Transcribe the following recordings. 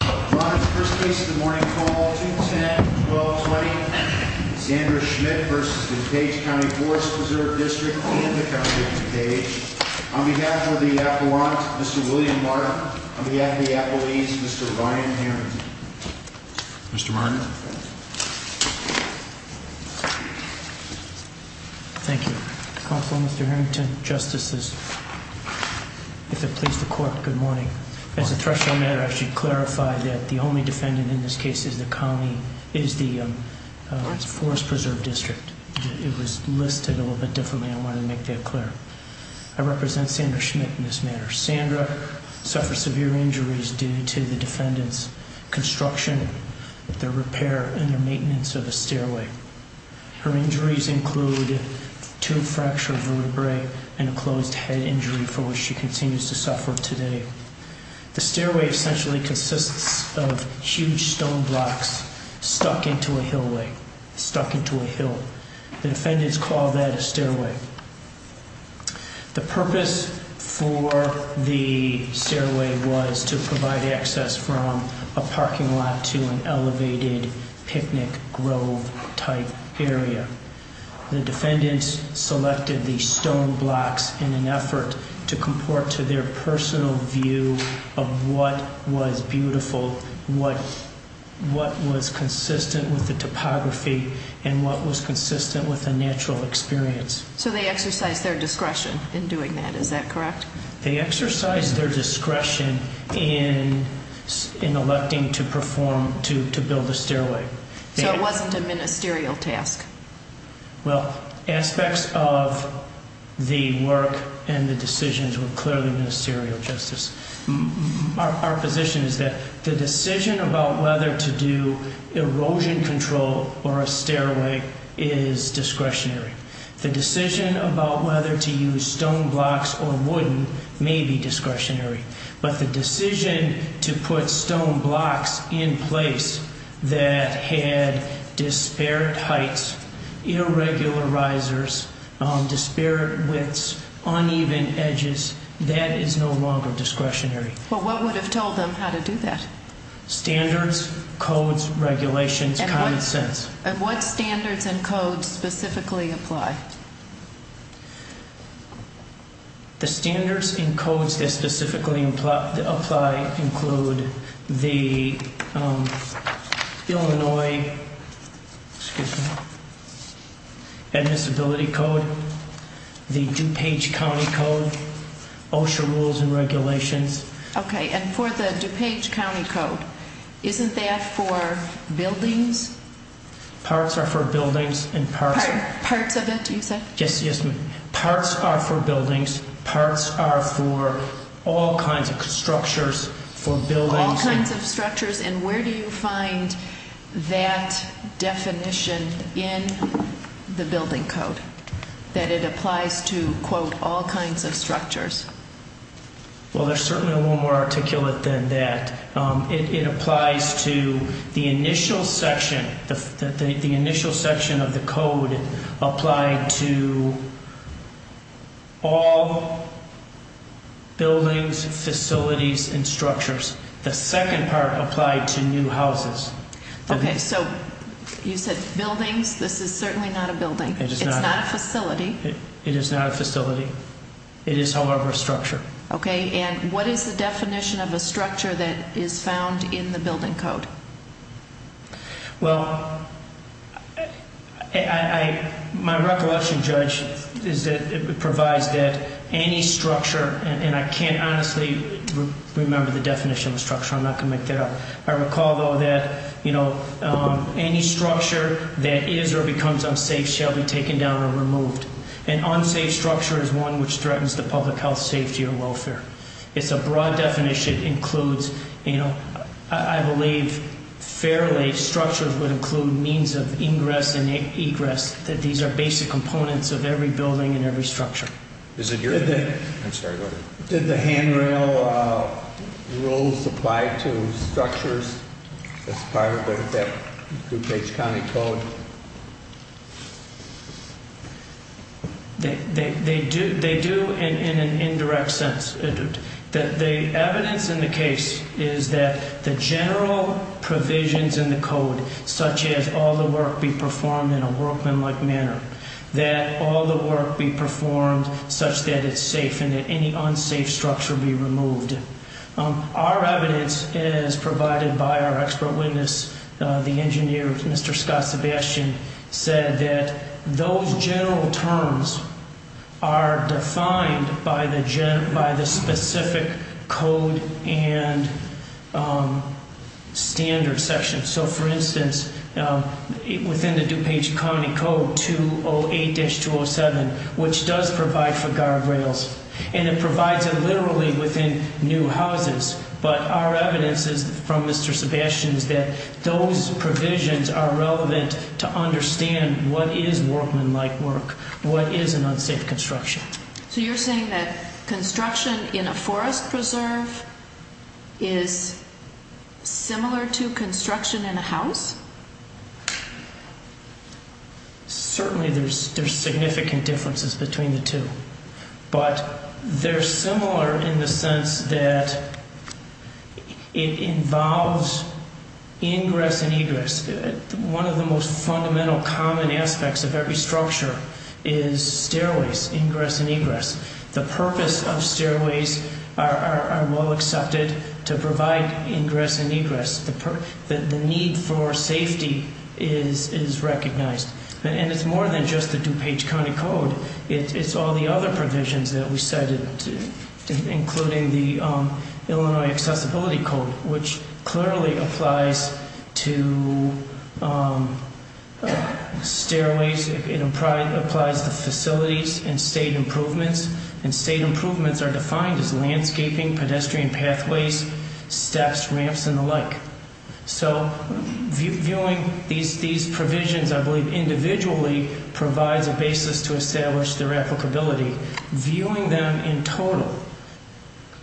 On behalf of the appellant, Mr. William Martin, on behalf of the appellees, Mr. Ryan Harrington. Mr. Martin. Thank you. Counsel, Mr. Harrington, justices. If it pleases the court, good morning. As a threshold matter, I should clarify that the only defendant in this case is the county, is the Forest Preserve District. It was listed a little bit differently. I wanted to make that clear. I represent Sandra Schmitt in this matter. Sandra suffered severe injuries due to the defendant's construction, their repair, and their maintenance of a stairway. Her injuries include two fractured vertebrae and a closed head injury for which she continues to suffer today. The stairway essentially consists of huge stone blocks stuck into a hillway, stuck into a hill. The defendants call that a stairway. The purpose for the stairway was to provide access from a parking lot to an elevated picnic grove type area. The defendants selected these stone blocks in an effort to comport to their personal view of what was beautiful, what was consistent with the topography, and what was consistent with a natural experience. So they exercised their discretion in doing that, is that correct? They exercised their discretion in electing to build a stairway. So it wasn't a ministerial task? Well, aspects of the work and the decisions were clearly ministerial, Justice. Our position is that the decision about whether to do erosion control or a stairway is discretionary. The decision about whether to use stone blocks or wooden may be discretionary. But the decision to put stone blocks in place that had disparate heights, irregular risers, disparate widths, uneven edges, that is no longer discretionary. Well, what would have told them how to do that? Standards, codes, regulations, common sense. And what standards and codes specifically apply? The standards and codes that specifically apply include the Illinois, excuse me, admissibility code, the DuPage County Code, OSHA rules and regulations. Okay, and for the DuPage County Code, isn't that for buildings? Parts are for buildings and parts are... Parts of it, you said? Yes, yes. Parts are for buildings, parts are for all kinds of structures, for buildings... All kinds of structures, and where do you find that definition in the building code, that it applies to, quote, all kinds of structures? Well, there's certainly a little more articulate than that. It applies to the initial section, the initial section of the code applied to all buildings, facilities, and structures. The second part applied to new houses. Okay, so you said buildings, this is certainly not a building. It is not. It's not a facility. It is not a facility. It is, however, a structure. Okay, and what is the definition of a structure that is found in the building code? Well, my recollection, Judge, is that it provides that any structure, and I can't honestly remember the definition of structure, I'm not going to make that up. I recall, though, that, you know, any structure that is or becomes unsafe shall be taken down or removed. An unsafe structure is one which threatens the public health, safety, or welfare. It's a broad definition. It includes, you know, I believe, fairly, structures would include means of ingress and egress, that these are basic components of every building and every structure. Is it your opinion? I'm sorry, go ahead. Did the handrail rules apply to structures as part of that DuPage County Code? They do in an indirect sense. The evidence in the case is that the general provisions in the code, such as all the work be performed in a workmanlike manner, that all the work be performed such that it's safe and that any unsafe structure be removed. Our evidence, as provided by our expert witness, the engineer, Mr. Scott Sebastian, said that those general terms are defined by the specific code and standard section. So, for instance, within the DuPage County Code 208-207, which does provide for guardrails, and it provides it literally within new houses. But our evidence is from Mr. Sebastian's that those provisions are relevant to understand what is workmanlike work, what is an unsafe construction. So you're saying that construction in a forest preserve is similar to construction in a house? The purpose of stairways are well accepted to provide ingress and egress. The need for safety is recognized. And it's more than just the DuPage County Code. It's all the other provisions that we cited, including the Illinois Accessibility Code, which clearly applies to stairways. It applies to facilities and state improvements. And state improvements are defined as landscaping, pedestrian pathways, steps, ramps, and the like. So, viewing these provisions, I believe, individually provides a basis to establish their applicability. Viewing them in total,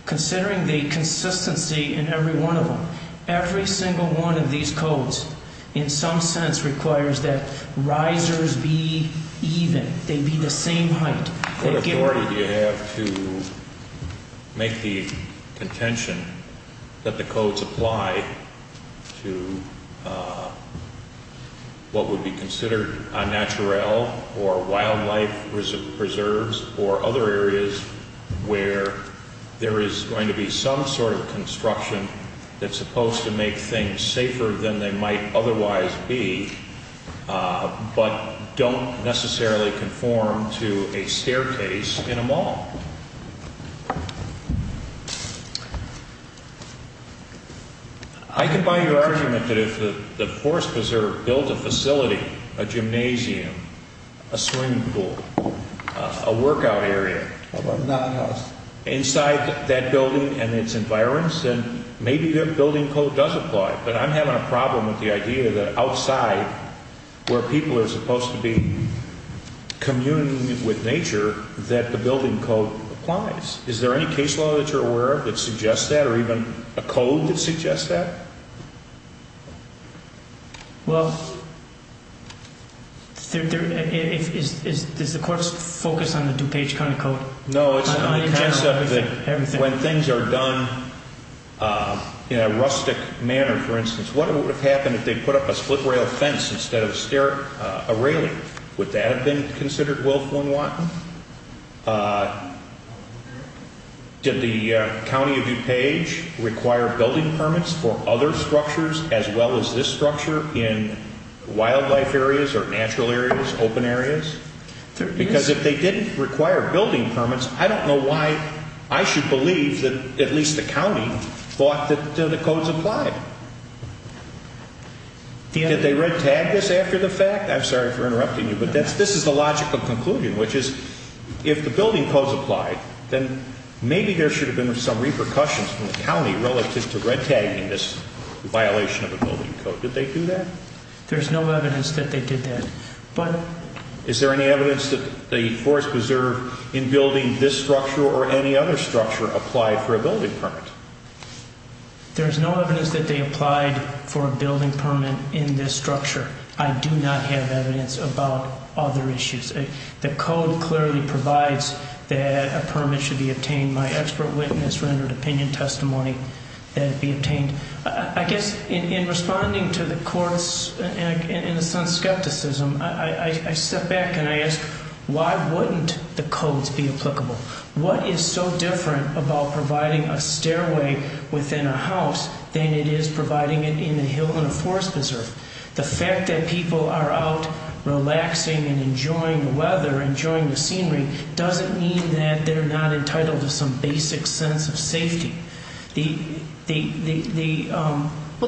considering the consistency in every one of them, every single one of these codes in some sense requires that risers be even, they be the same height. Thank you. What authority do you have to make the contention that the codes apply to what would be considered a natural or wildlife reserves or other areas where there is going to be some sort of construction that's supposed to make things safer than they might otherwise be, but don't necessarily conform to a staircase in a mall? I can buy your argument that if the Forest Preserve built a facility, a gymnasium, a swimming pool, a workout area, inside that building and its environs, then maybe their building code does apply. But I'm having a problem with the idea that outside, where people are supposed to be communing with nature, that the building code applies. Is there any case law that you're aware of that suggests that, or even a code that suggests that? Well, does the Court focus on the DuPage kind of code? No, it's the concept that when things are done in a rustic manner, for instance, what would have happened if they put up a split rail fence instead of a railing? Would that have been considered willful and wanton? Did the County of DuPage require building permits for other structures as well as this structure in wildlife areas or natural areas, open areas? Because if they didn't require building permits, I don't know why I should believe that at least the County thought that the codes applied. Did they red-tag this after the fact? I'm sorry for interrupting you, but this is the logical conclusion, which is if the building codes applied, then maybe there should have been some repercussions from the County relative to red-tagging this violation of a building code. Did they do that? There's no evidence that they did that. Is there any evidence that the Forest Preserve in building this structure or any other structure applied for a building permit? There's no evidence that they applied for a building permit in this structure. I do not have evidence about other issues. The code clearly provides that a permit should be obtained. My expert witness rendered opinion testimony that it be obtained. I guess in responding to the court's, in a sense, skepticism, I step back and I ask, why wouldn't the codes be applicable? What is so different about providing a stairway within a house than it is providing it in a hill in a Forest Preserve? The fact that people are out relaxing and enjoying the weather, enjoying the scenery, doesn't mean that they're not entitled to some basic sense of safety. Well,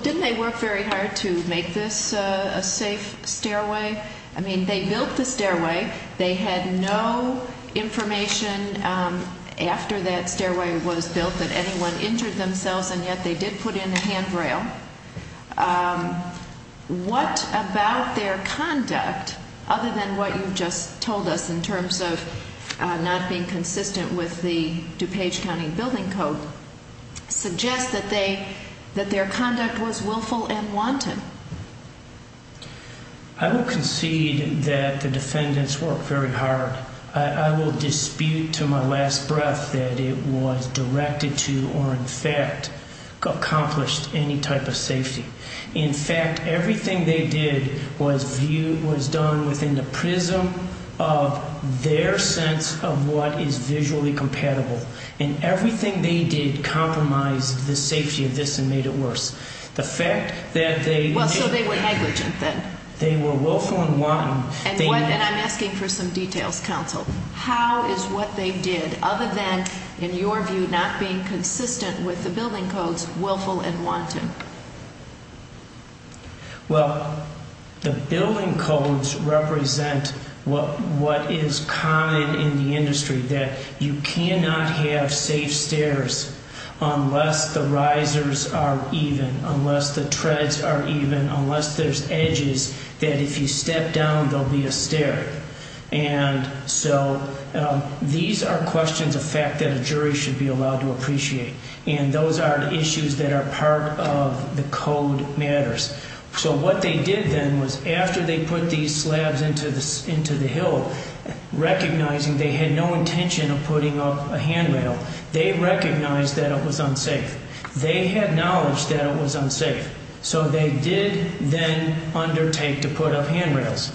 didn't they work very hard to make this a safe stairway? I mean, they built the stairway. They had no information after that stairway was built that anyone injured themselves, and yet they did put in a handrail. What about their conduct, other than what you just told us in terms of not being consistent with the DuPage County Building Code, suggests that their conduct was willful and wanted? I will concede that the defendants worked very hard. I will dispute to my last breath that it was directed to or in fact accomplished any type of safety. In fact, everything they did was done within the prism of their sense of what is visually compatible, and everything they did compromised the safety of this and made it worse. So they were negligent then? They were willful and wanted. And I'm asking for some details, counsel. How is what they did, other than, in your view, not being consistent with the building codes, willful and wanted? Well, the building codes represent what is common in the industry, that you cannot have safe stairs unless the risers are even, unless the treads are even, unless there's edges that if you step down, there'll be a stair. And so these are questions of fact that a jury should be allowed to appreciate, and those are the issues that are part of the code matters. So what they did then was after they put these slabs into the hill, recognizing they had no intention of putting up a handrail, they recognized that it was unsafe. They had knowledge that it was unsafe. So they did then undertake to put up handrails.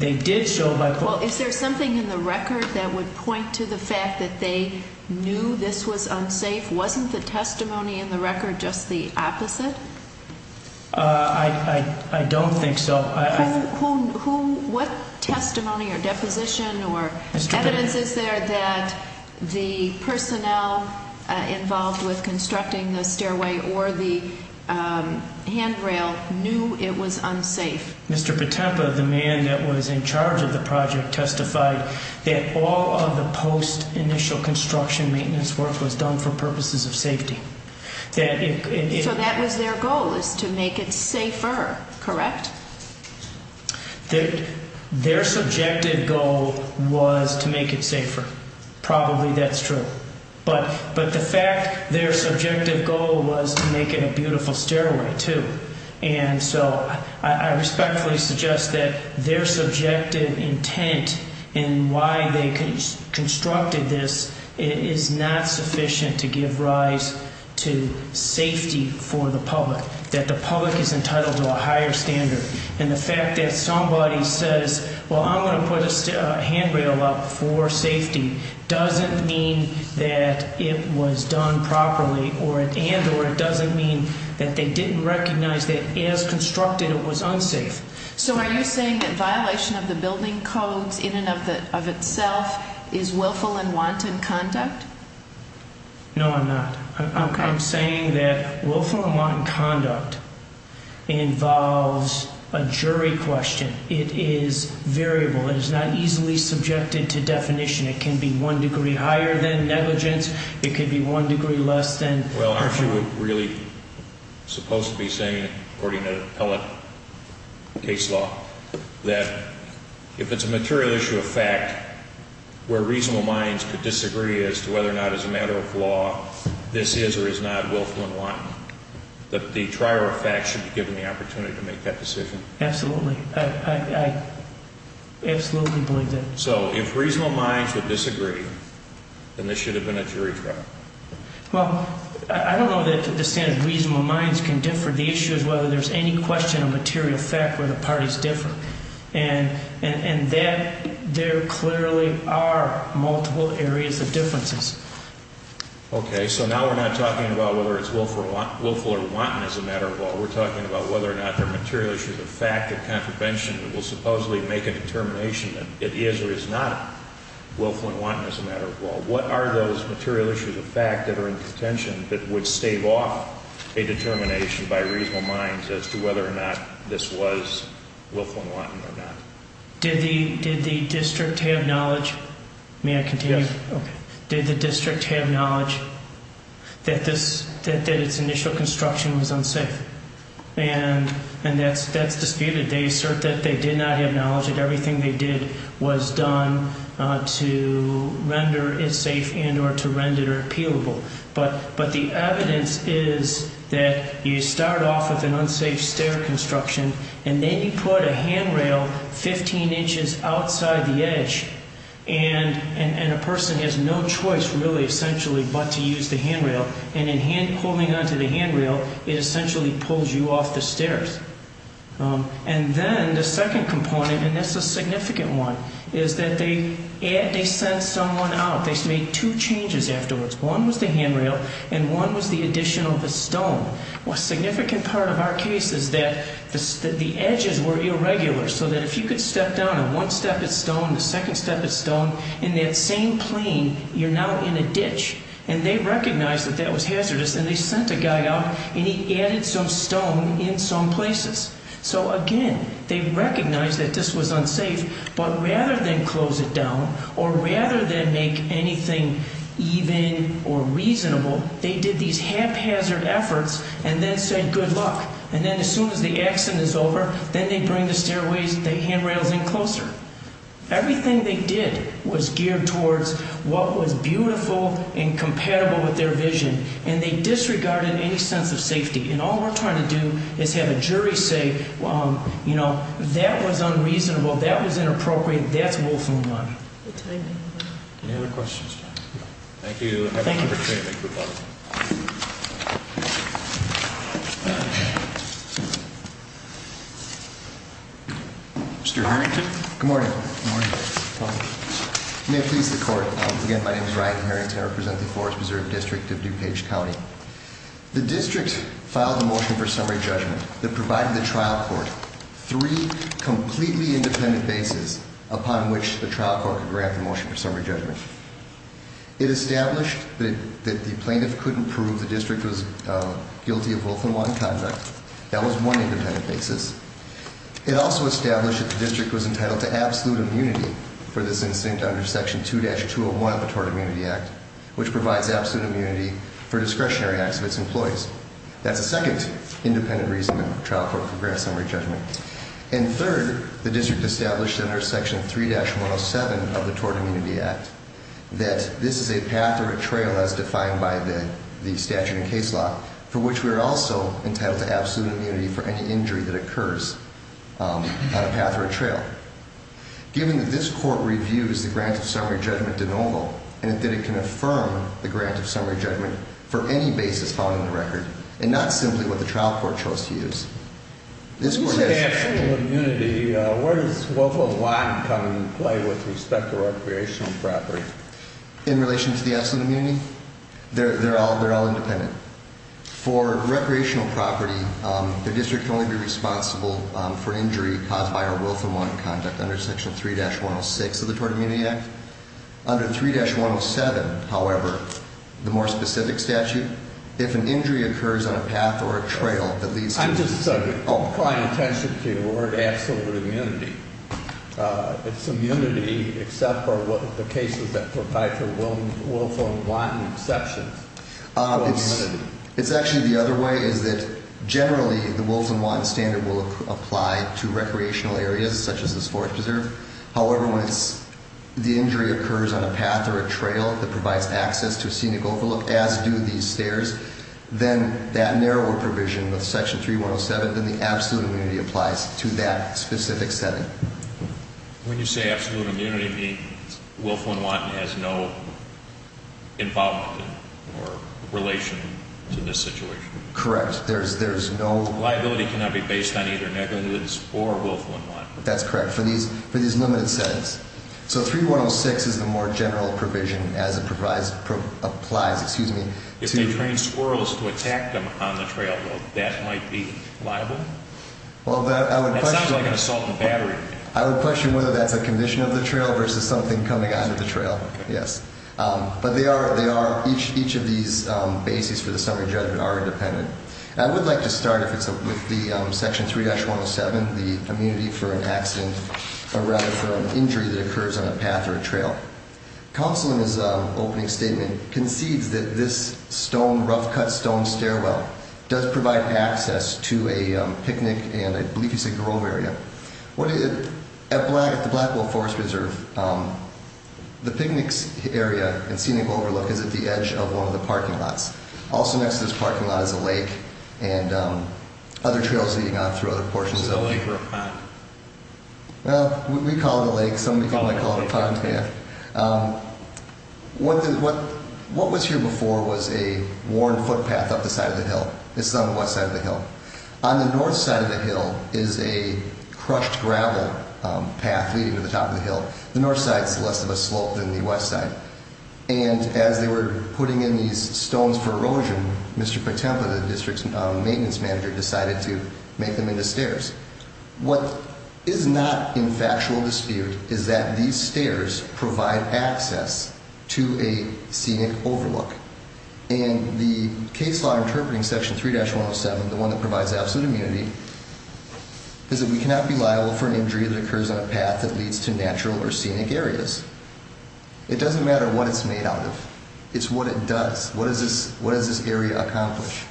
Well, is there something in the record that would point to the fact that they knew this was unsafe? Wasn't the testimony in the record just the opposite? I don't think so. What testimony or deposition or evidence is there that the personnel involved with constructing the stairway or the handrail knew it was unsafe? Mr. Patempa, the man that was in charge of the project, testified that all of the post-initial construction maintenance work was done for purposes of safety. So that was their goal, is to make it safer, correct? Their subjective goal was to make it safer. Probably that's true. But the fact, their subjective goal was to make it a beautiful stairway, too. And so I respectfully suggest that their subjective intent in why they constructed this is not sufficient to give rise to safety for the public, that the public is entitled to a higher standard. And the fact that somebody says, well, I'm going to put a handrail up for safety doesn't mean that it was done properly and or it doesn't mean that they didn't recognize that as constructed it was unsafe. So are you saying that violation of the building codes in and of itself is willful and wanton conduct? No, I'm not. I'm saying that willful and wanton conduct involves a jury question. It is variable. It is not easily subjected to definition. It can be one degree higher than negligence. It could be one degree less than. Well, aren't you really supposed to be saying, according to appellate case law, that if it's a material issue of fact where reasonable minds could disagree as to whether or not it's a matter of law, this is or is not willful and wanton, that the trier of facts should be given the opportunity to make that decision? Absolutely. I absolutely believe that. So if reasonable minds would disagree, then this should have been a jury trial. Well, I don't know that the standard of reasonable minds can differ. The issue is whether there's any question of material fact where the parties differ. And there clearly are multiple areas of differences. Okay. So now we're not talking about whether it's willful or wanton as a matter of law. We're talking about whether or not there are material issues of fact that contravention will supposedly make a determination that it is or is not willful and wanton as a matter of law. What are those material issues of fact that are in contention that would stave off a determination by reasonable minds as to whether or not this was willful and wanton or not? Did the district have knowledge? May I continue? Yes. Okay. Did the district have knowledge that its initial construction was unsafe? And that's disputed. They assert that they did not have knowledge that everything they did was done to render it safe and or to render it appealable. But the evidence is that you start off with an unsafe stair construction, and then you put a handrail 15 inches outside the edge. And a person has no choice, really, essentially, but to use the handrail. And in pulling onto the handrail, it essentially pulls you off the stairs. And then the second component, and this is a significant one, is that they sent someone out. They made two changes afterwards. One was the handrail, and one was the addition of a stone. A significant part of our case is that the edges were irregular so that if you could step down on one step at stone, the second step at stone, in that same plane, you're now in a ditch. And they recognized that that was hazardous, and they sent a guy out, and he added some stone in some places. So, again, they recognized that this was unsafe. But rather than close it down or rather than make anything even or reasonable, they did these haphazard efforts and then said, good luck. And then as soon as the accident is over, then they bring the stairways, the handrails in closer. Everything they did was geared towards what was beautiful and compatible with their vision. And they disregarded any sense of safety. And all we're trying to do is have a jury say, you know, that was unreasonable, that was inappropriate, that's wolf on the run. Any other questions? Thank you. Thank you. Mr. Harrington. Good morning. May it please the court. Again, my name is Ryan Harrington. I represent the Forest Preserve District of DuPage County. The district filed a motion for summary judgment that provided the trial court three completely independent bases upon which the trial court could grant the motion for summary judgment. It established that the plaintiff couldn't prove the district was guilty of wolf on the run conduct. That was one independent basis. It also established that the district was entitled to absolute immunity for this incident under Section 2-201 of the Tort Immunity Act, which provides absolute immunity for discretionary acts of its employees. That's the second independent reason the trial court could grant summary judgment. And third, the district established under Section 3-107 of the Tort Immunity Act. That this is a path or a trail as defined by the statute and case law, for which we are also entitled to absolute immunity for any injury that occurs on a path or a trail. Given that this court reviews the grant of summary judgment de novo, and that it can affirm the grant of summary judgment for any basis found in the record, and not simply what the trial court chose to use. When you say absolute immunity, where does wolf on the run come into play with respect to recreational property? In relation to the absolute immunity? They're all independent. For recreational property, the district can only be responsible for injury caused by our wolf on the run conduct under Section 3-106 of the Tort Immunity Act. Under 3-107, however, the more specific statute, if an injury occurs on a path or a trail that leads to- Let me just draw attention to the word absolute immunity. It's immunity except for the cases that provide for wolf on the run exceptions. It's actually the other way, is that generally the wolf on the run standard will apply to recreational areas, such as this forest preserve. However, when the injury occurs on a path or a trail that provides access to a scenic overlook, as do these stairs, then that narrower provision of Section 3-107, then the absolute immunity applies to that specific setting. When you say absolute immunity, you mean wolf on the run has no involvement or relation to this situation? Correct. There's no- Liability cannot be based on either negligence or wolf on the run. That's correct, for these limited settings. So 3-106 is the more general provision as it applies to- If they train squirrels to attack them on the trail, that might be liable? Well, I would question- That sounds like an assault on the battery. I would question whether that's a condition of the trail versus something coming out of the trail. Yes. But they are, each of these bases for the summary judgment are independent. I would like to start with the Section 3-107, the immunity for an accident, or rather for an injury that occurs on a path or a trail. Counsel in his opening statement concedes that this stone, rough cut stone stairwell does provide access to a picnic and I believe you said grove area. At the Blackwell Forest Preserve, the picnic area and scenic overlook is at the edge of one of the parking lots. Also next to this parking lot is a lake and other trails leading on through other portions of- Is it a lake or a pond? Well, we call it a lake. Some people might call it a pond. What was here before was a worn footpath up the side of the hill. This is on the west side of the hill. On the north side of the hill is a crushed gravel path leading to the top of the hill. The north side is less of a slope than the west side. And as they were putting in these stones for erosion, Mr. Patempa, the district's maintenance manager, decided to make them into stairs. What is not in factual dispute is that these stairs provide access to a scenic overlook. And the case law interpreting Section 3-107, the one that provides absolute immunity, is that we cannot be liable for an injury that occurs on a path that leads to natural or scenic areas. It doesn't matter what it's made out of. It's what it does. What does this area accomplish?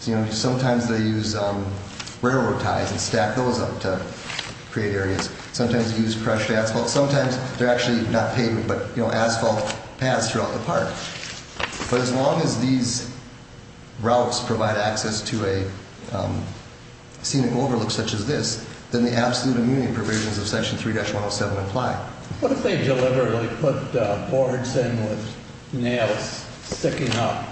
Sometimes they use railroad ties and stack those up to create areas. Sometimes they use crushed asphalt. Sometimes they're actually not pavement, but asphalt paths throughout the park. But as long as these routes provide access to a scenic overlook such as this, then the absolute immunity provisions of Section 3-107 apply. What if they deliberately put boards in with nails sticking up?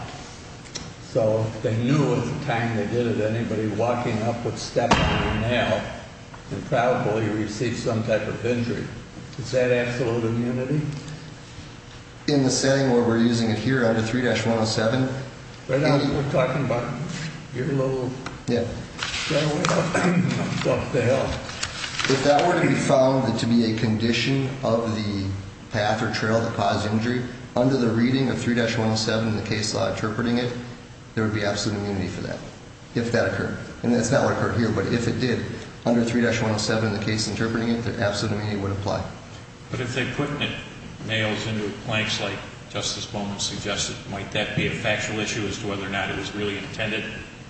So they knew at the time they did it, anybody walking up would step on a nail and probably receive some type of injury. Is that absolute immunity? In the setting where we're using it here under 3-107? Right now we're talking about your little stairway up the hill. If that were to be found to be a condition of the path or trail that caused the injury, under the reading of 3-107 in the case law interpreting it, there would be absolute immunity for that, if that occurred. And that's not what occurred here, but if it did, under 3-107 in the case interpreting it, the absolute immunity would apply. But if they put nails into planks like Justice Bowman suggested, might that be a factual issue as to whether or not it was really intended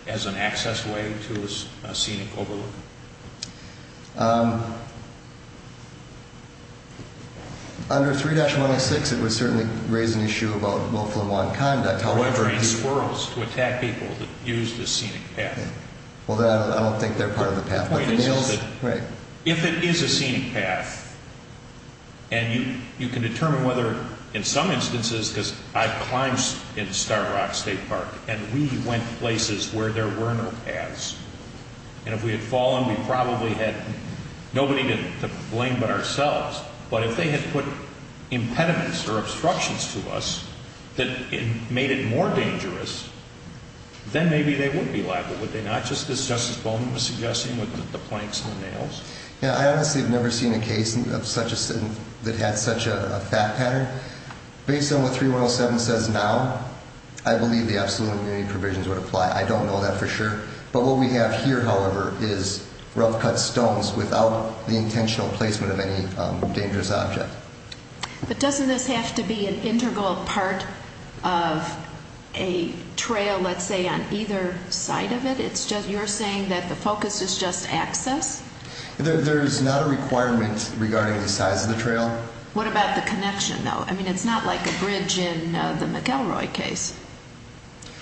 as an access way to a scenic overlook? Under 3-106 it would certainly raise an issue about willful and want conduct. Or train squirrels to attack people that use this scenic path. Although I don't think they're part of the path. If it is a scenic path, and you can determine whether in some instances, because I've climbed in Star Rock State Park, and we went places where there were no paths. And if we had fallen, we probably had nobody to blame but ourselves. But if they had put impediments or obstructions to us that made it more dangerous, then maybe they would be liable, would they not? Just as Justice Bowman was suggesting with the planks and the nails. I honestly have never seen a case that had such a fact pattern. Based on what 3-107 says now, I believe the absolute immunity provisions would apply. I don't know that for sure. But what we have here, however, is rough cut stones without the intentional placement of any dangerous object. But doesn't this have to be an integral part of a trail, let's say, on either side of it? You're saying that the focus is just access? There's not a requirement regarding the size of the trail. What about the connection, though? I mean, it's not like a bridge in the McElroy case.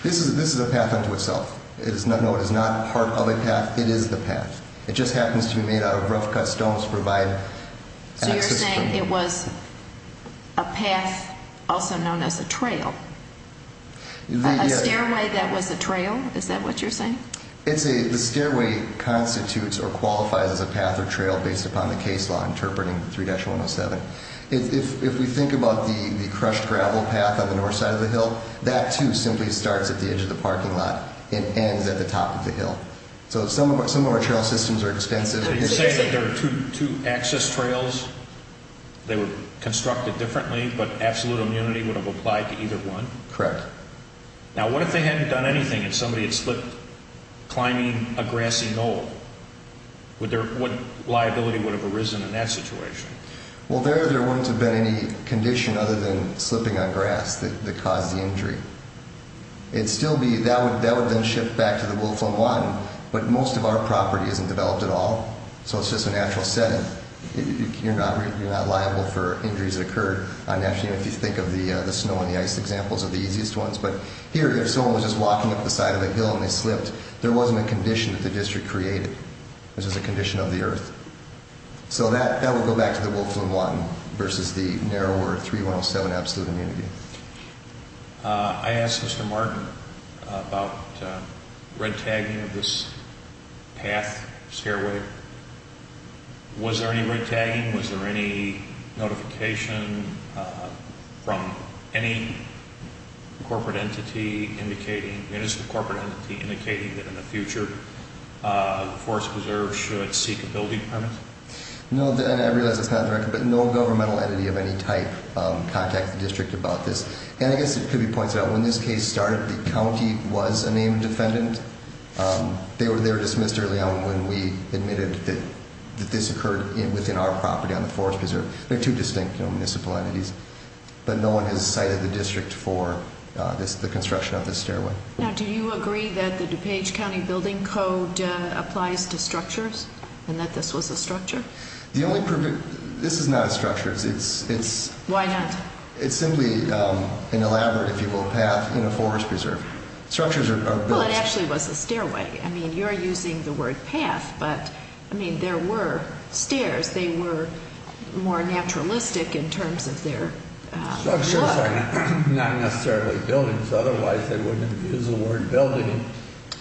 This is a path unto itself. No, it is not part of a path. It is the path. It just happens to be made out of rough cut stones to provide access. So you're saying it was a path also known as a trail? A stairway that was a trail? Is that what you're saying? The stairway constitutes or qualifies as a path or trail based upon the case law interpreting 3-107. If we think about the crushed gravel path on the north side of the hill, that, too, simply starts at the edge of the parking lot and ends at the top of the hill. So some of our trail systems are expensive. Are you saying that there are two access trails? They were constructed differently, but absolute immunity would have applied to either one? Correct. Now, what if they hadn't done anything and somebody had slipped climbing a grassy knoll? What liability would have arisen in that situation? Well, there, there wouldn't have been any condition other than slipping on grass that caused the injury. It'd still be, that would then shift back to the Wilflam Blanton, but most of our property isn't developed at all. So it's just a natural setting. You're not liable for injuries that occurred. If you think of the snow and the ice examples are the easiest ones. But here, if someone was just walking up the side of a hill and they slipped, there wasn't a condition that the district created. This is a condition of the earth. So that, that would go back to the Wilflam Blanton versus the narrower 3107 absolute immunity. I asked Mr. Martin about red tagging of this path, stairway. Was there any red tagging? Was there any notification from any corporate entity indicating, municipal corporate entity, indicating that in the future, Forest Preserve should seek a building permit? No, and I realize it's not in the record, but no governmental entity of any type contacted the district about this. And I guess it could be pointed out, when this case started, the county was a named defendant. They were dismissed early on when we admitted that this occurred within our property on the Forest Preserve. They're two distinct municipal entities. But no one has cited the district for the construction of this stairway. Now, do you agree that the DuPage County Building Code applies to structures? And that this was a structure? The only permit, this is not a structure. It's, it's. Why not? It's simply an elaborate, if you will, path in a Forest Preserve. Structures are built. Well, it actually was a stairway. I mean, you're using the word path, but, I mean, there were stairs. They were more naturalistic in terms of their look. Structures are not necessarily buildings. Otherwise, they wouldn't have used the word building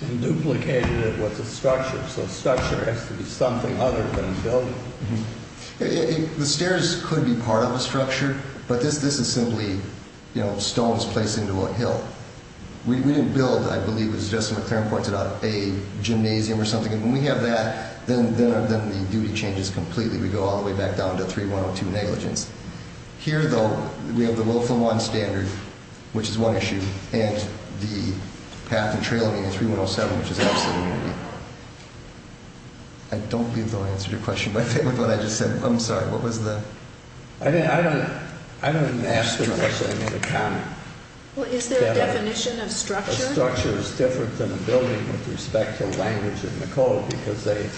and duplicated it with a structure. So, structure has to be something other than building. The stairs could be part of a structure, but this is simply, you know, stones placed into a hill. We didn't build, I believe it was Justin McLaren pointed out, a gymnasium or something. And when we have that, then the duty changes completely. We go all the way back down to 3102 negligence. Here, though, we have the willful one standard, which is one issue, and the path and trail meeting in 3107, which is absolute immunity. I don't believe, though, I answered your question, but I just said, I'm sorry, what was the? I didn't, I don't, I don't even ask them unless they make a comment. Well, is there a definition of structure? A structure is different than a building with respect to language in the code, because the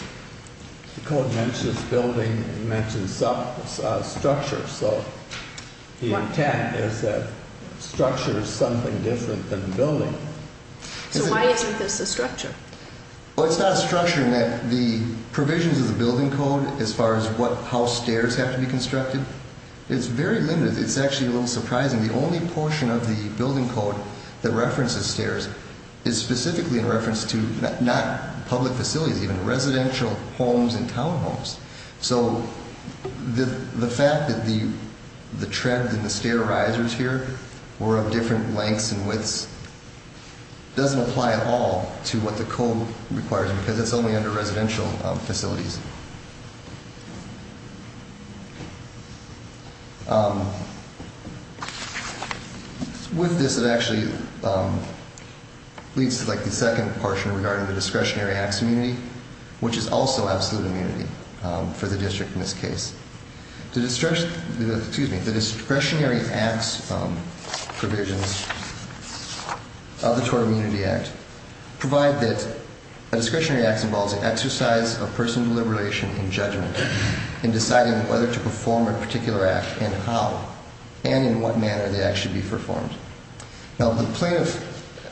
code mentions building, it mentions structure. So, the intent is that structure is something different than building. So, why isn't this a structure? Well, it's not a structure in that the provisions of the building code, as far as what, how stairs have to be constructed, it's very limited. It's actually a little surprising. The only portion of the building code that references stairs is specifically in reference to not public facilities, even residential homes and townhomes. So, the fact that the tread and the stair risers here were of different lengths and widths doesn't apply at all to what the code requires, because it's only under residential facilities. With this, it actually leads to, like, the second portion regarding the discretionary acts immunity, which is also absolute immunity for the district in this case. The discretionary acts provisions of the TOR Immunity Act provide that a discretionary act involves an exercise of personal deliberation and judgment in deciding whether to perform a particular act and how, and in what manner the act should be performed. Now, the plaintiff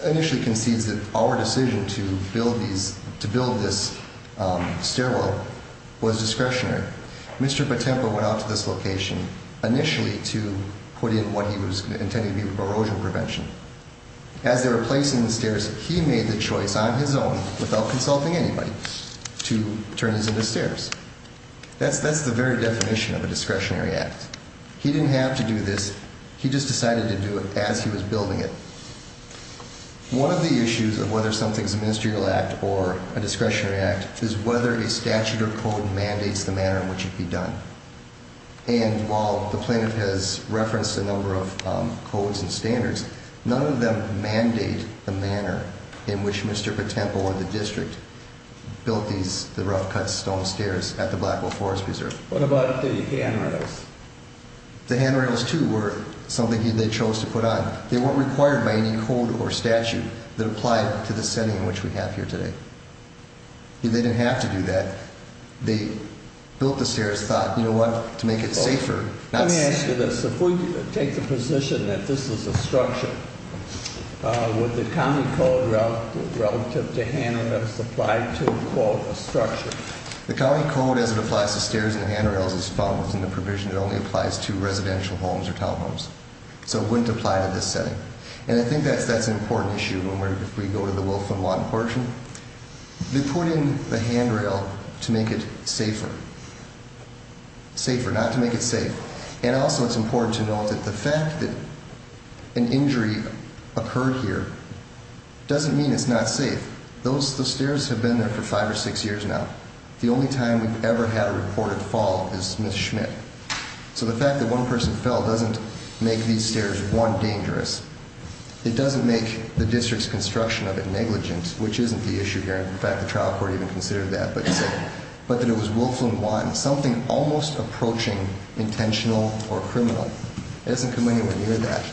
initially concedes that our decision to build this stairwell was discretionary. Mr. Patempo went out to this location initially to put in what he was intending to be erosion prevention. As they were placing the stairs, he made the choice on his own, without consulting anybody, to turn these into stairs. That's the very definition of a discretionary act. He didn't have to do this. He just decided to do it as he was building it. One of the issues of whether something's a ministerial act or a discretionary act is whether a statute or code mandates the manner in which it be done. And while the plaintiff has referenced a number of codes and standards, none of them mandate the manner in which Mr. Patempo and the district built these rough cut stone stairs at the Blackwell Forest Reserve. What about the handrails? The handrails, too, were something they chose to put on. They weren't required by any code or statute that applied to the setting in which we have here today. They didn't have to do that. They built the stairs, thought, you know what, to make it safer. Let me ask you this. If we take the position that this is a structure, would the county code relative to handrails apply to call it a structure? The county code, as it applies to stairs and handrails, is found within the provision. It only applies to residential homes or townhomes. So it wouldn't apply to this setting. And I think that's an important issue if we go to the Wolf and Watt portion. They put in the handrail to make it safer. Safer, not to make it safe. And also it's important to note that the fact that an injury occurred here doesn't mean it's not safe. Those stairs have been there for five or six years now. The only time we've ever had a reported fall is Ms. Schmidt. So the fact that one person fell doesn't make these stairs, one, dangerous. It doesn't make the district's construction of it negligent, which isn't the issue here. In fact, the trial court even considered that, but that it was Wolf and Watt, something almost approaching intentional or criminal. It doesn't come anywhere near that.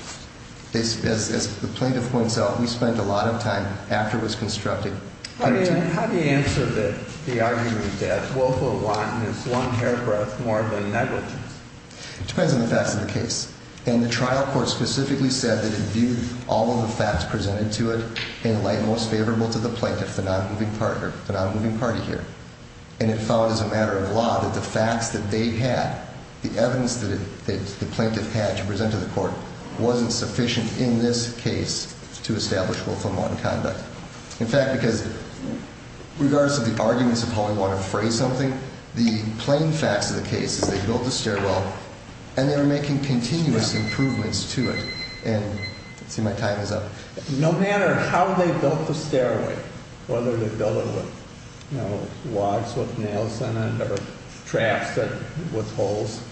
As the plaintiff points out, we spent a lot of time after it was constructed. How do you answer the argument that Wolf and Watt is one paragraph more than negligent? It depends on the facts of the case. And the trial court specifically said that it viewed all of the facts presented to it in light most favorable to the plaintiff, the non-moving party here. And it found as a matter of law that the facts that they had, the evidence that the plaintiff had to present to the court, wasn't sufficient in this case to establish Wolf and Watt in conduct. In fact, because regardless of the arguments of how we want to phrase something, the plain facts of the case is they built the stairwell and they were making continuous improvements to it. And let's see, my time is up. No matter how they built the stairway, whether they built it with, you know, logs with nails in it or traps with holes,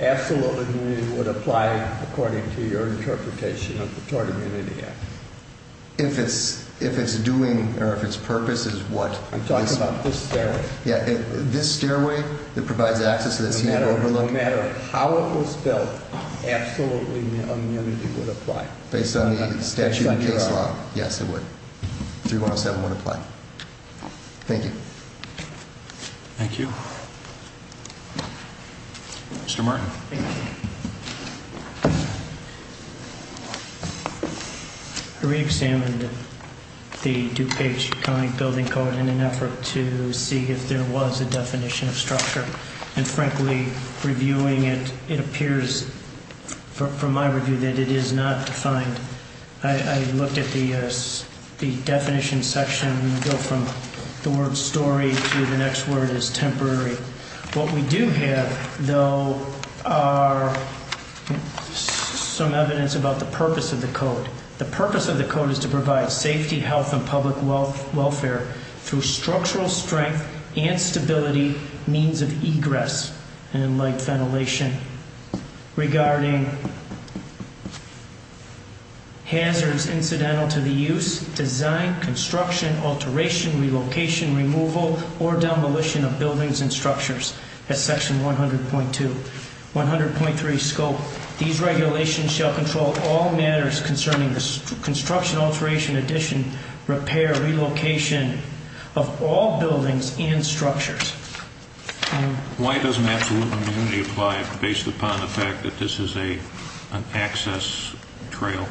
absolutely would apply according to your interpretation of the Tort Immunity Act. If it's doing or if its purpose is what? I'm talking about this stairway. Yeah, this stairway that provides access to the Seattle Overlook. No matter how it was built, absolutely immunity would apply. Based on the statute and case law, yes, it would. 3107 would apply. Thank you. Thank you. Mr. Martin. Thank you. I reexamined the DuPage County Building Code in an effort to see if there was a definition of structure. And frankly, reviewing it, it appears from my review that it is not defined. I looked at the definition section, and we go from the word story to the next word is temporary. What we do have, though, are some evidence about the purpose of the code. The purpose of the code is to provide safety, health, and public welfare through structural strength and stability, means of egress and light ventilation regarding hazards incidental to the use, design, construction, alteration, relocation, removal, or demolition of buildings and structures as section 100.2. 100.3 scope, these regulations shall control all matters concerning the construction, alteration, addition, repair, relocation of all buildings and structures. Why doesn't absolute immunity apply based upon the fact that this is an access trail?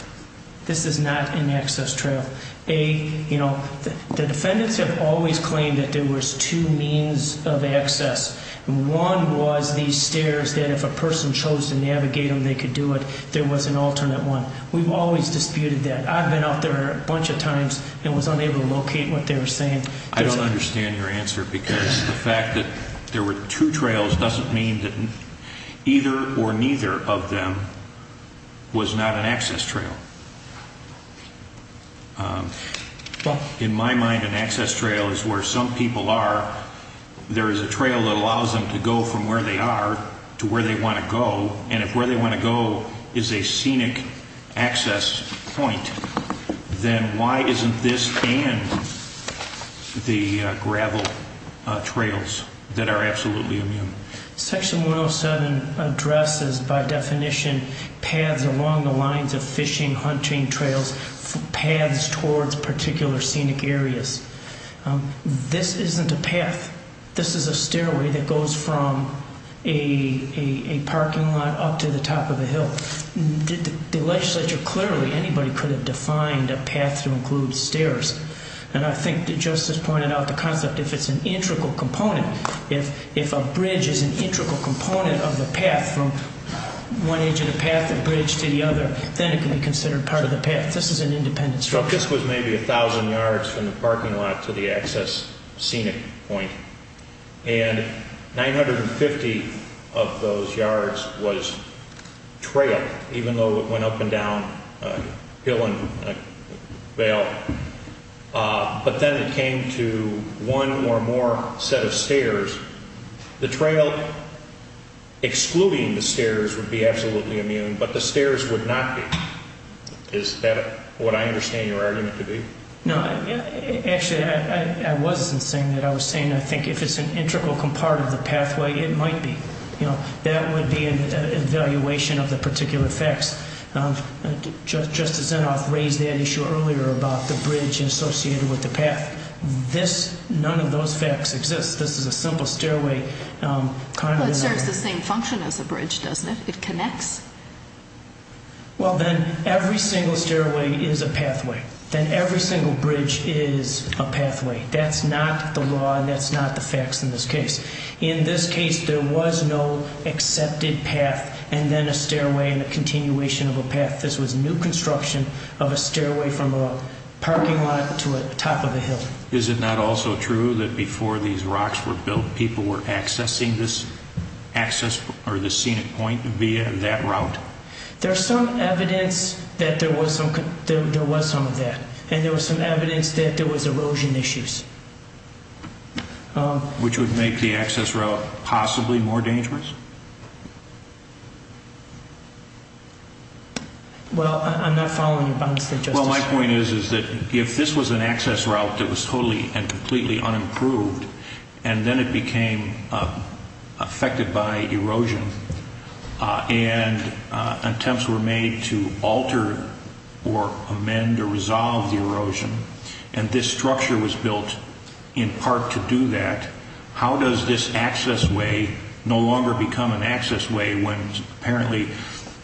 This is not an access trail. The defendants have always claimed that there was two means of access. One was these stairs that if a person chose to navigate them, they could do it. There was an alternate one. We've always disputed that. I've been out there a bunch of times and was unable to locate what they were saying. I don't understand your answer because the fact that there were two trails doesn't mean that either or neither of them was not an access trail. In my mind, an access trail is where some people are. There is a trail that allows them to go from where they are to where they want to go, and if where they want to go is a scenic access point, then why isn't this and the gravel trails that are absolutely immune? Section 107 addresses, by definition, paths along the lines of fishing, hunting trails, paths towards particular scenic areas. This isn't a path. This is a stairway that goes from a parking lot up to the top of a hill. The legislature clearly, anybody could have defined a path to include stairs, and I think that Justice pointed out the concept if it's an integral component. If a bridge is an integral component of the path from one edge of the path, the bridge to the other, then it can be considered part of the path. This is an independent structure. This was maybe 1,000 yards from the parking lot to the access scenic point, and 950 of those yards was trail, even though it went up and down a hill and a vale. But then it came to one or more set of stairs. The trail excluding the stairs would be absolutely immune, but the stairs would not be. Is that what I understand your argument to be? No. Actually, I wasn't saying that. I was saying I think if it's an integral part of the pathway, it might be. That would be an evaluation of the particular facts. Justice Zinoff raised that issue earlier about the bridge associated with the path. None of those facts exist. This is a simple stairway. Well, it serves the same function as a bridge, doesn't it? It connects. Well, then every single stairway is a pathway. Then every single bridge is a pathway. That's not the law, and that's not the facts in this case. In this case, there was no accepted path and then a stairway and a continuation of a path. This was new construction of a stairway from a parking lot to the top of a hill. Is it not also true that before these rocks were built, people were accessing this access or this scenic point via that route? There's some evidence that there was some of that, and there was some evidence that there was erosion issues. Which would make the access route possibly more dangerous? Well, I'm not following your bounds there, Justice. Well, my point is that if this was an access route that was totally and completely unimproved and then it became affected by erosion and attempts were made to alter or amend or resolve the erosion, and this structure was built in part to do that, how does this access way no longer become an access way when apparently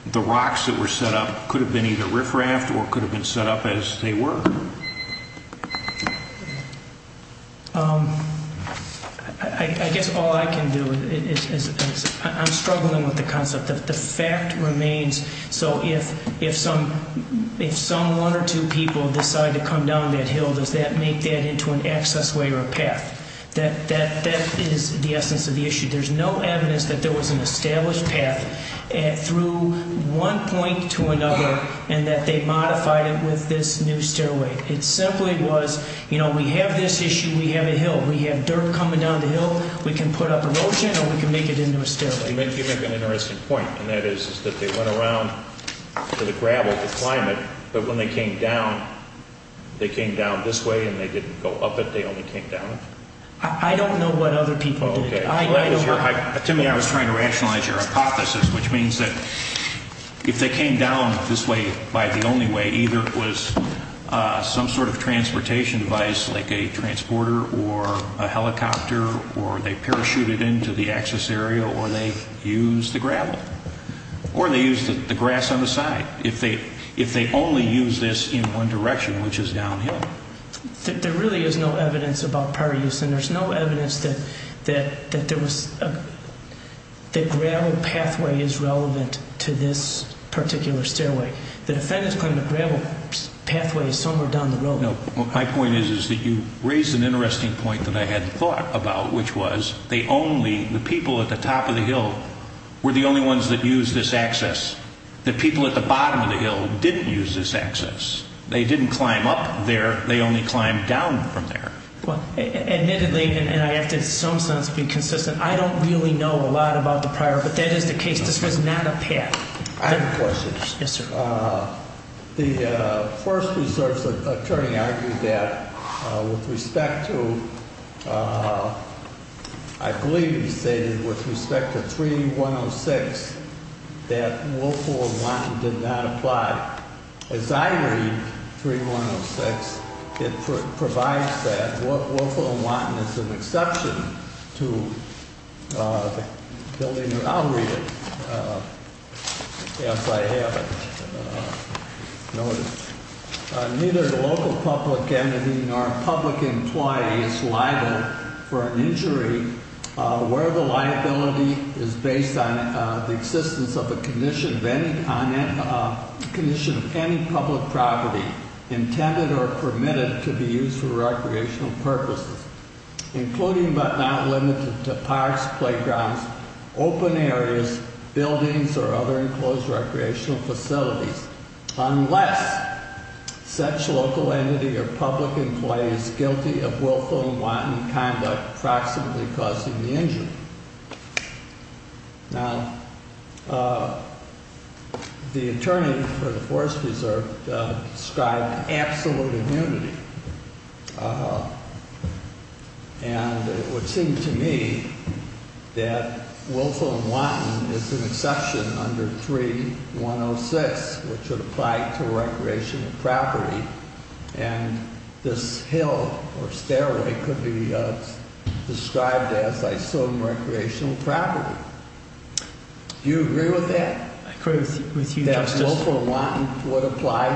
the rocks that were set up could have been either riffraffed or could have been set up as they were? I guess all I can do is I'm struggling with the concept that the fact remains. So if some one or two people decide to come down that hill, does that make that into an access way or a path? That is the essence of the issue. There's no evidence that there was an established path through one point to another and that they modified it with this new stairway. It simply was, you know, we have this issue, we have a hill. We have dirt coming down the hill, we can put up erosion or we can make it into a stairway. You make an interesting point, and that is that they went around to the gravel to climb it, but when they came down, they came down this way and they didn't go up it, they only came down it? I don't know what other people did. Tim, I was trying to rationalize your hypothesis, which means that if they came down this way by the only way, either it was some sort of transportation device like a transporter or a helicopter or they parachuted into the access area or they used the gravel or they used the grass on the side. If they only used this in one direction, which is downhill. There really is no evidence about prior use, and there's no evidence that the gravel pathway is relevant to this particular stairway. The defendants climbed the gravel pathway somewhere down the road. My point is that you raise an interesting point that I hadn't thought about, which was the people at the top of the hill were the only ones that used this access. The people at the bottom of the hill didn't use this access. They didn't climb up there. They only climbed down from there. Admittedly, and I have to in some sense be consistent, I don't really know a lot about the prior, but that is the case. This was not a path. I have a question. Yes, sir. The first reserve's attorney argued that with respect to, I believe he stated with respect to 3106, that willful and wanton did not apply. As I read 3106, it provides that willful and wanton is an exception to the building. I'll read it. Yes, I have it noted. Neither the local public entity nor public employee is liable for an injury where the liability is based on the existence of a condition of any public property intended or permitted to be used for recreational purposes, including but not limited to parks, playgrounds, open areas, buildings, or other enclosed recreational facilities, unless such local entity or public employee is guilty of willful and wanton conduct, approximately causing the injury. Now, the attorney for the Forest Reserve described absolute immunity, and it would seem to me that willful and wanton is an exception under 3106, which would apply to recreational property, and this hill or stairway could be described as, I assume, recreational property. Do you agree with that? I agree with you, Justice. That willful and wanton would apply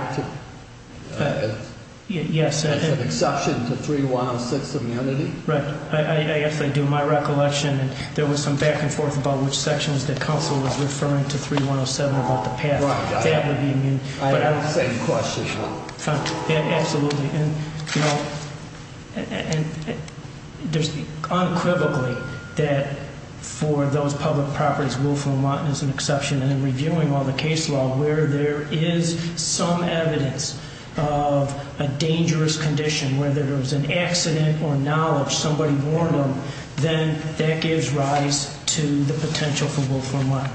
as an exception to 3106 immunity? Right. I guess I do my recollection that there was some back and forth about which sections the council was referring to 3107 about the path. I have the same question. Absolutely. Unquivocally, for those public properties, willful and wanton is an exception, and in reviewing all the case law where there is some evidence of a dangerous condition, whether it was an accident or knowledge, somebody warned them, then that gives rise to the potential for willful and wanton.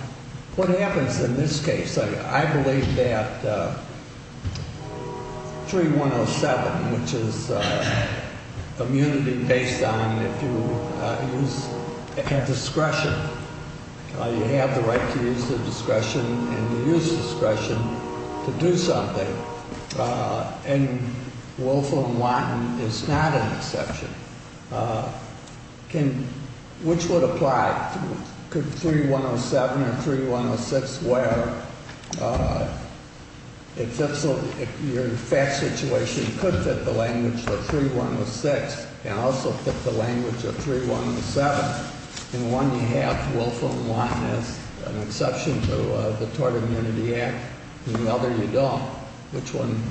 What happens in this case? I believe that 3107, which is immunity based on if you have discretion, you have the right to use the discretion and the use of discretion to do something, and willful and wanton is not an exception. Which would apply? Could 3107 or 3106 where your facts situation could fit the language of 3106 and also fit the language of 3107? In one you have willful and wanton as an exception to the Tort Immunity Act, in the other you don't. Which one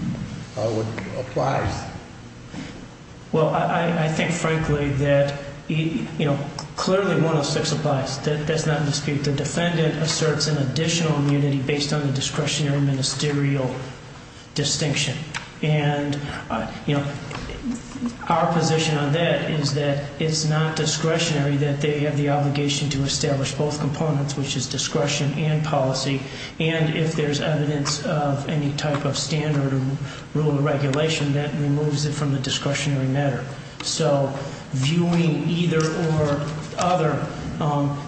applies? I think, frankly, that clearly 106 applies. That's not in the speech. The defendant asserts an additional immunity based on the discretionary ministerial distinction. Our position on that is that it's not discretionary that they have the obligation to establish both components, which is discretion and policy, and if there's evidence of any type of standard or rule or regulation that removes it from the discretionary matter. So viewing either or other,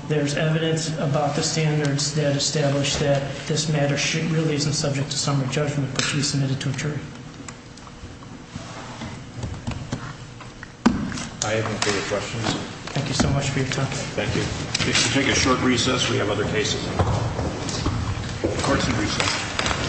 there's evidence about the standards that establish that this matter really isn't subject to summary judgment, but should be submitted to a jury. I have no further questions. Thank you so much for your time. Thank you. If you take a short recess, we have other cases on the call. Court is in recess.